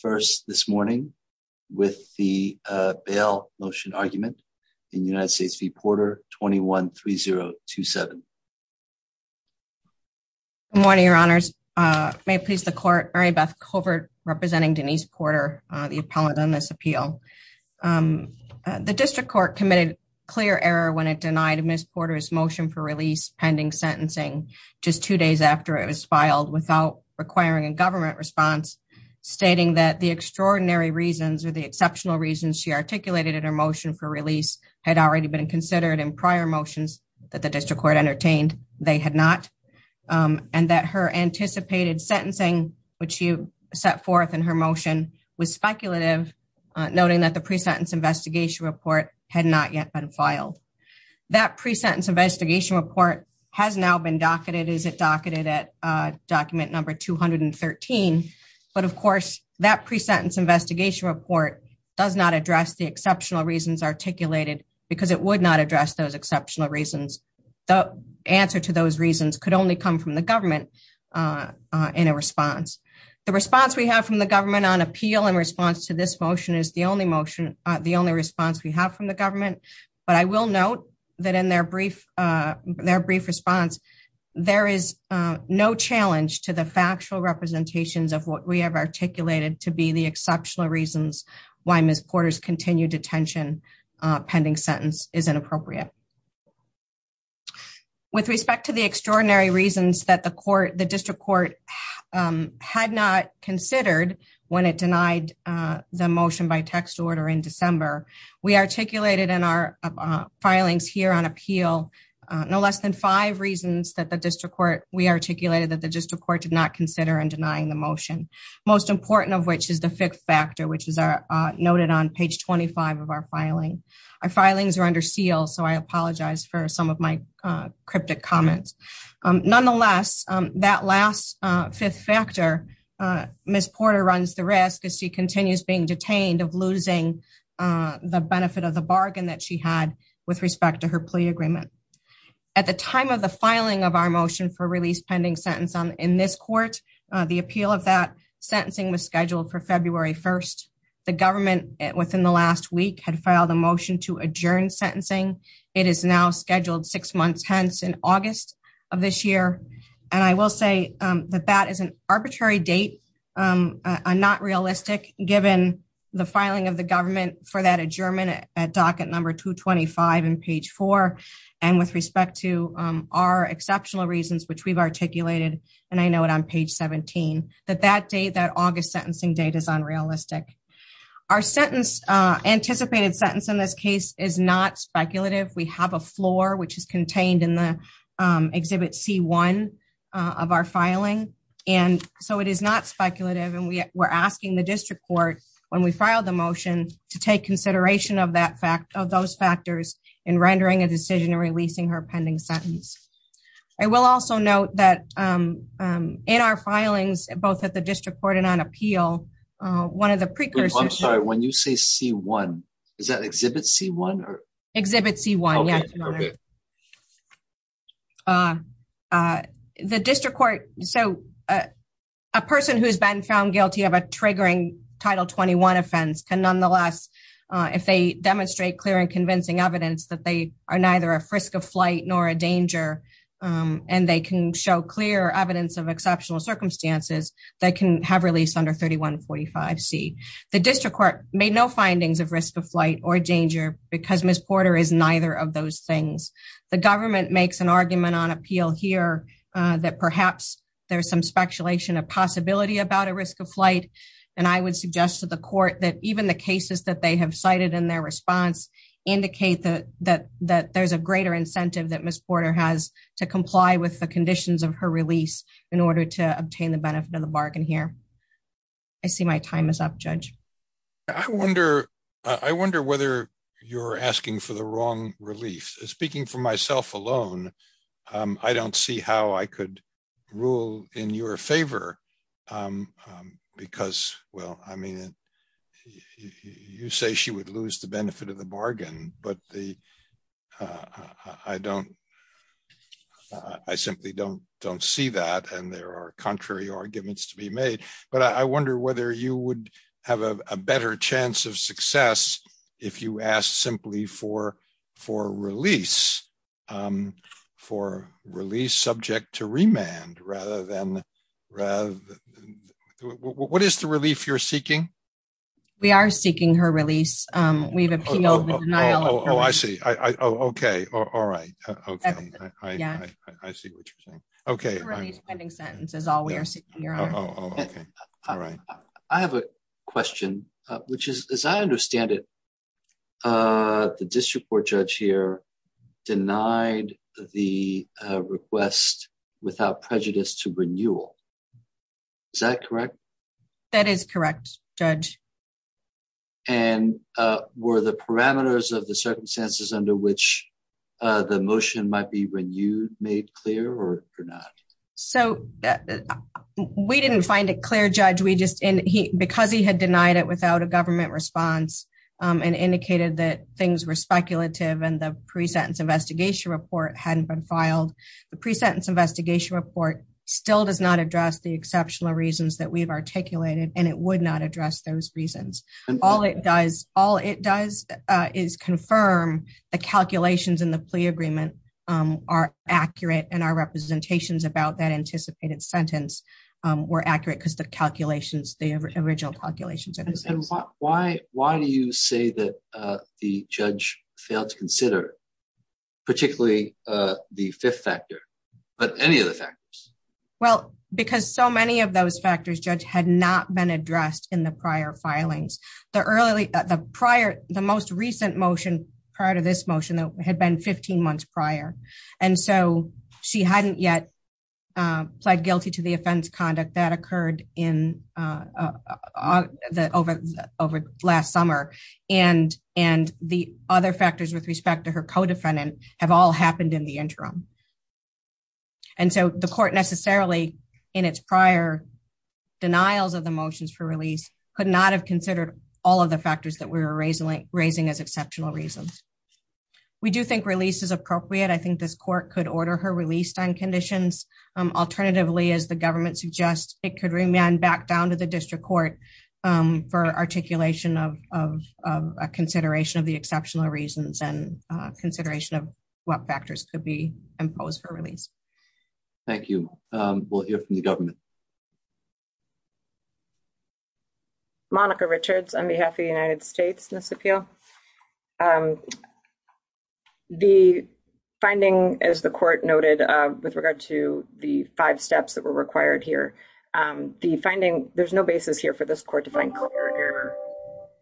first this morning with the bail motion argument in United States v. Porter 21-3027. Good morning, your honors. May it please the court, Mary Beth Covert representing Denise Porter, the appellant on this appeal. The district court committed clear error when it denied Ms. Porter's motion for release pending sentencing just two days after it was filed without requiring a government response, stating that the extraordinary reasons or the exceptional reasons she articulated in her motion for release had already been considered in prior motions that the district court entertained. They had not. And that her anticipated sentencing, which she set forth in her motion, was speculative, noting that the pre-sentence investigation report had not yet been filed. That pre-sentence investigation report has now been docketed, at document number 213. But of course, that pre-sentence investigation report does not address the exceptional reasons articulated because it would not address those exceptional reasons. The answer to those reasons could only come from the government in a response. The response we have from the government on appeal in response to this motion is the only response we have from the government. But I will note that in their brief response, there is no challenge to the factual representations of what we have articulated to be the exceptional reasons why Ms. Porter's continued detention pending sentence is inappropriate. With respect to the extraordinary reasons that the district court had not considered when it denied the motion by text order in December, we articulated in our filings here on appeal no less than five reasons that we articulated that the district court did not consider in denying the motion. Most important of which is the fifth factor, which is noted on page 25 of our filing. Our filings are under seal, so I apologize for some of my cryptic comments. Nonetheless, that last fifth factor, Ms. Porter runs the risk as she continues being detained of agreement. At the time of the filing of our motion for release pending sentence in this court, the appeal of that sentencing was scheduled for February 1st. The government within the last week had filed a motion to adjourn sentencing. It is now scheduled six months hence in August of this year. And I will say that that is an arbitrary date, not realistic given the filing of the and with respect to our exceptional reasons, which we've articulated, and I know it on page 17, that that date, that August sentencing date is unrealistic. Our sentence anticipated sentence in this case is not speculative. We have a floor, which is contained in the exhibit C1 of our filing. And so it is not speculative. And we were asking the district court when we filed the motion to take consideration of that fact of those in releasing her pending sentence. I will also note that in our filings, both at the district court and on appeal, one of the precursors... I'm sorry, when you say C1, is that exhibit C1 or? Exhibit C1, yes, Your Honor. The district court, so a person who has been found guilty of a triggering Title 21 offense can nonetheless, if they demonstrate clear and convincing evidence that they are neither a risk of flight nor a danger, and they can show clear evidence of exceptional circumstances, they can have released under 3145C. The district court made no findings of risk of flight or danger because Ms. Porter is neither of those things. The government makes an argument on appeal here that perhaps there's some speculation of possibility about a risk of flight. And I would suggest to the court that even the cases that they have cited in their response indicate that there's a greater incentive that Ms. Porter has to comply with the conditions of her release in order to obtain the benefit of the bargain here. I see my time is up, Judge. I wonder whether you're asking for the wrong relief. Speaking for myself alone, I don't see how I could rule in your favor because, well, I mean, you say she would lose the benefit of the bargain, but I simply don't see that, and there are contrary arguments to be made. But I wonder whether you would have a better chance of success if you ask simply for release, for release subject to remand rather than... What is the relief you're seeking? We are seeking her release. We've appealed the denial of her release. Oh, I see. Okay. All right. Okay. I see what you're saying. Okay. Her release pending sentence is all we are seeking, Your Honor. Oh, okay. All right. I have a question, which is, as I understand it, the district court judge here denied the request without prejudice to renewal. Is that correct? That is correct, Judge. And were the parameters of the circumstances under which the motion might be renewed made clear or not? So we didn't find it clear, Judge. Because he denied it without a government response and indicated that things were speculative and the pre-sentence investigation report hadn't been filed. The pre-sentence investigation report still does not address the exceptional reasons that we've articulated, and it would not address those reasons. All it does is confirm the calculations in the plea agreement are accurate, and our representations about that anticipated sentence were accurate because the calculations, the original calculations are the same. And why do you say that the judge failed to consider, particularly the fifth factor, but any other factors? Well, because so many of those factors, Judge, had not been addressed in the prior filings. The most recent motion prior to this motion had been 15 months prior, and so she hadn't yet pled guilty to the offense conduct that occurred in over last summer. And the other factors with respect to her co-defendant have all happened in the interim. And so the court necessarily, in its prior denials of the motions for release, could not have considered all of the factors that we were raising as exceptional reasons. We do think release is appropriate. I think this court could order her released on conditions. Alternatively, as the government suggests, it could remand back down to the district court for articulation of a consideration of the exceptional reasons and consideration of what factors could be imposed for release. Thank you. We'll hear from the government. Monica Richards on behalf of the United States in this appeal. The finding, as the court noted, with regard to the five steps that were required here, the finding, there's no basis here for this court to find clear error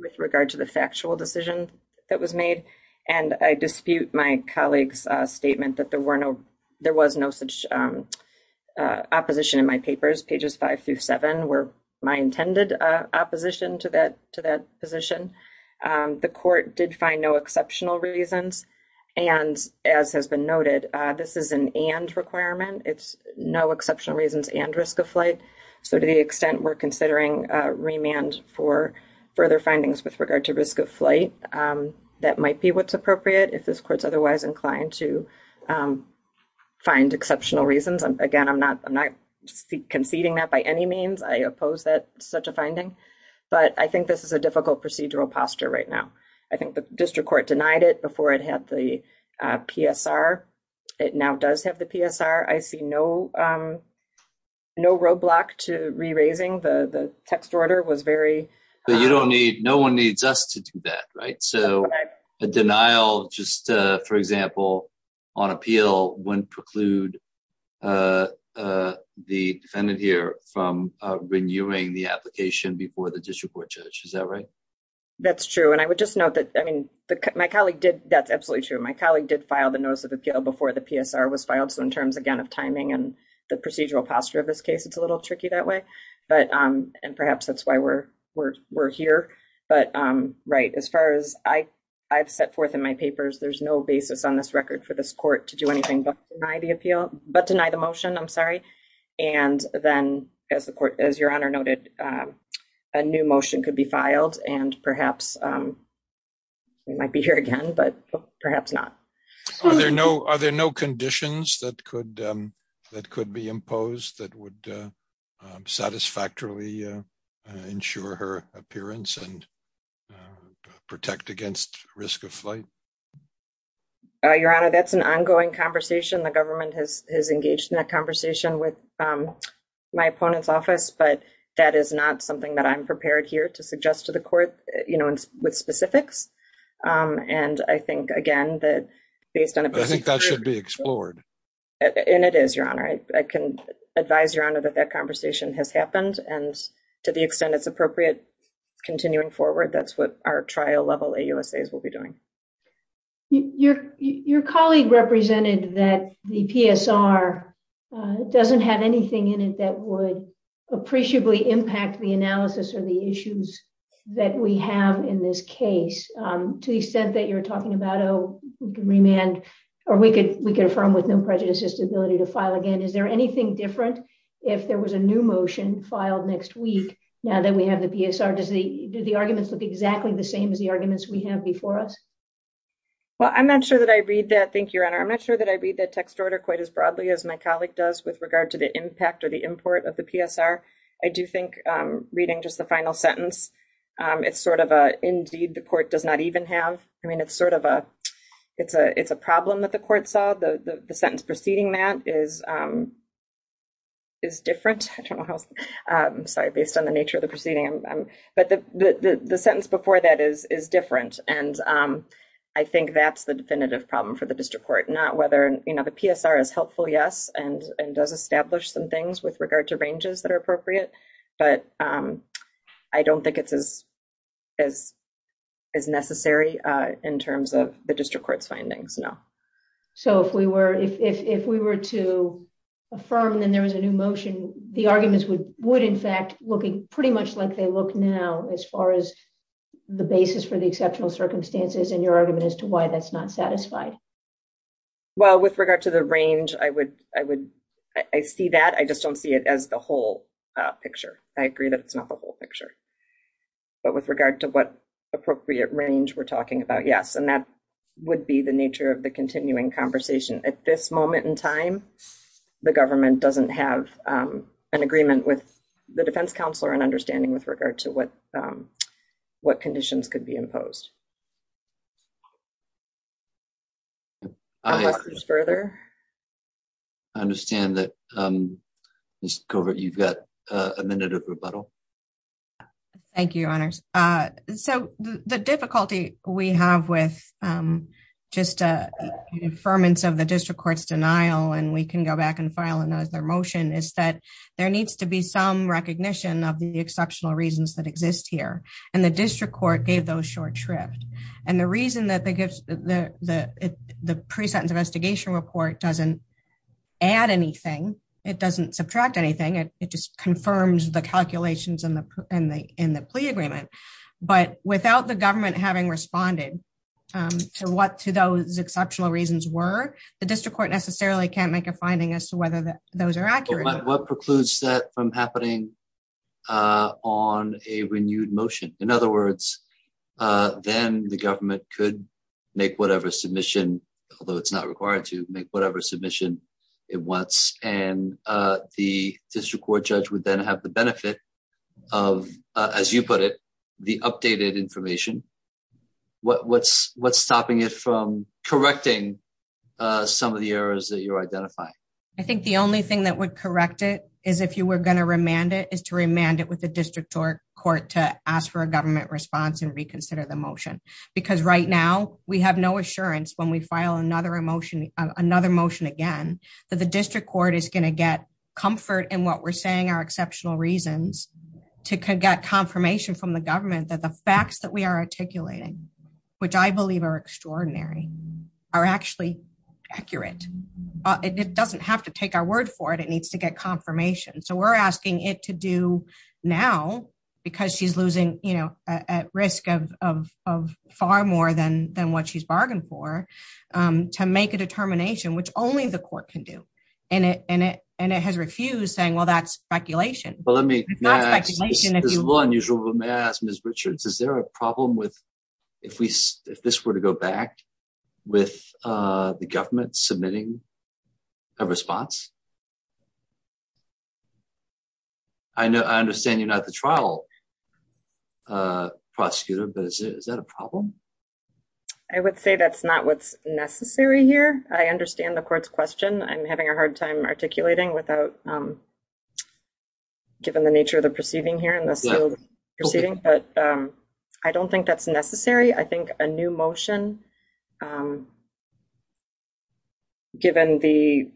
with regard to the factual decision that was made. And I dispute my colleague's statement that there were no, there was no such opposition in my papers. Pages five through seven were my intended opposition to that position. The court did find no exceptional reasons. And as has been noted, this is an and requirement. It's no exceptional reasons and risk of flight. So to the extent we're considering remand for further findings with regard to risk of flight, that might be what's appropriate if this court's otherwise inclined to find exceptional reasons. Again, I'm not conceding that by any means. I oppose that such a finding, but I think this is a difficult procedural posture right now. I think the district court denied it before it had the PSR. It now does have the PSR. I see no roadblock to re-raising. The text order was very... But you don't need, no one needs us to do that, right? So a denial, just for example, on appeal wouldn't preclude the defendant here from renewing the application before the district court judge. Is that right? That's true. And I would just note that, I mean, my colleague did, that's absolutely true. My colleague did file the notice of appeal before the PSR was filed. So in terms, again, of timing and the procedural posture of this case, it's a little tricky that way. But, and perhaps that's why we're here. But right, as far as I've set forth in my papers, there's no basis on this record for this court to do anything but deny the appeal, but deny the motion, I'm sorry. And then as the court, as your honor noted, a new motion could be filed and perhaps we might be here again, but perhaps not. Are there no conditions that could be imposed that would satisfactorily ensure her appearance and protect against risk of flight? Your honor, that's an ongoing conversation. The government has engaged in that conversation with my opponent's office, but that is not something that I'm prepared here to suggest to the court, you know, with specifics. And I think, again, that based on a basic... I think that should be explored. And it is, your honor. I can advise your honor that that conversation has happened. And to the extent it's appropriate, continuing forward, that's what our trial level AUSAs will be doing. Your colleague represented that the PSR doesn't have anything in it that would appreciably impact the analysis or the issues that we have in this case. To the extent that you're talking about, oh, we can remand or we could affirm with no prejudices ability to file again. Is there anything different if there was a new motion filed next week now that we have the PSR? Do the arguments look exactly the same as the arguments we have before us? Well, I'm not sure that I read that. Thank you, your honor. I'm not sure that I read that text order quite as broadly as my colleague does with regard to the impact or the import of the PSR. I do think reading just the final sentence, it's sort of a, indeed, the court does not even have. I mean, it's sort of a, it's a problem that the court saw. The sentence preceding that is different. I don't know how, sorry, based on the nature of the proceeding. But the sentence before that is different. And I think that's the definitive problem for the district court, not whether, you know, the PSR is helpful, yes, and does establish some things with regard to in terms of the district court's findings. No. So if we were, if we were to affirm that there was a new motion, the arguments would, in fact, looking pretty much like they look now as far as the basis for the exceptional circumstances and your argument as to why that's not satisfied. Well, with regard to the range, I would, I would, I see that. I just don't see it as the whole picture. I agree that it's not the whole picture. But with regard to what appropriate range we're talking about, yes. And that would be the nature of the continuing conversation. At this moment in time, the government doesn't have an agreement with the defense counselor and understanding with regard to what, what conditions could be imposed. Any questions further? I understand that, Ms. Covert, you've got a minute of rebuttal. Uh, thank you, Your Honors. Uh, so the difficulty we have with, um, just, uh, affirmance of the district court's denial, and we can go back and file and notice their motion, is that there needs to be some recognition of the exceptional reasons that exist here. And the district court gave those short shrift. And the reason that they give the, the, the pre-sentence investigation report doesn't add anything. It doesn't subtract anything. It just confirms the calculations in the, in the, in the plea agreement. But without the government having responded, um, to what, to those exceptional reasons were, the district court necessarily can't make a finding as to whether those are accurate. What precludes that from happening, uh, on a renewed motion? In other words, uh, then the government could make whatever submission, although it's not required to, make whatever submission it wants. And, uh, the district court judge would then have the benefit of, uh, as you put it, the updated information. What, what's, what's stopping it from correcting, uh, some of the errors that you're identifying? I think the only thing that would correct it is if you were going to remand it, is to remand it with the district court to ask for a government response and reconsider the motion. Because right now, we have no assurance when we file another motion, another motion again, that the district court is going to get comfort in what we're saying are exceptional reasons to get confirmation from the government that the facts that we are articulating, which I believe are extraordinary, are actually accurate. It doesn't have to take our word for it. It needs to get confirmation. So we're asking it to do now because she's losing, you know, at risk of, of, of far more than, than what she's bargained for, um, to make a determination, which only the court can do. And it, and it, and it has refused saying, well, that's speculation. Well, let me, this is a little unusual, but may I ask Ms. Richards, is there a problem with, if we, if this were to go back with, uh, the government submitting a response? I know, I understand you're not the trial, uh, prosecutor, but is that a problem? I would say that's not what's necessary here. I understand the court's question. I'm having a hard time articulating without, um, given the nature of the proceeding here in this proceeding, but, um, I don't think that's necessary. I think a new motion, um, given the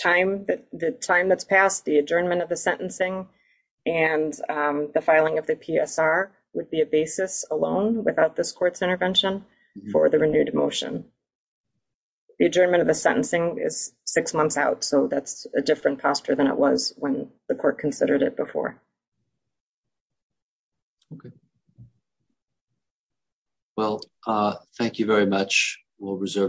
time that the time that's passed the adjournment of the sentencing and, um, the filing of the PSR would be a basis alone without this court's intervention for the renewed motion. The adjournment of the sentencing is six months out. So that's a different posture than it was when the court considered it before. Okay. Well, uh, thank you very much. We'll reserve.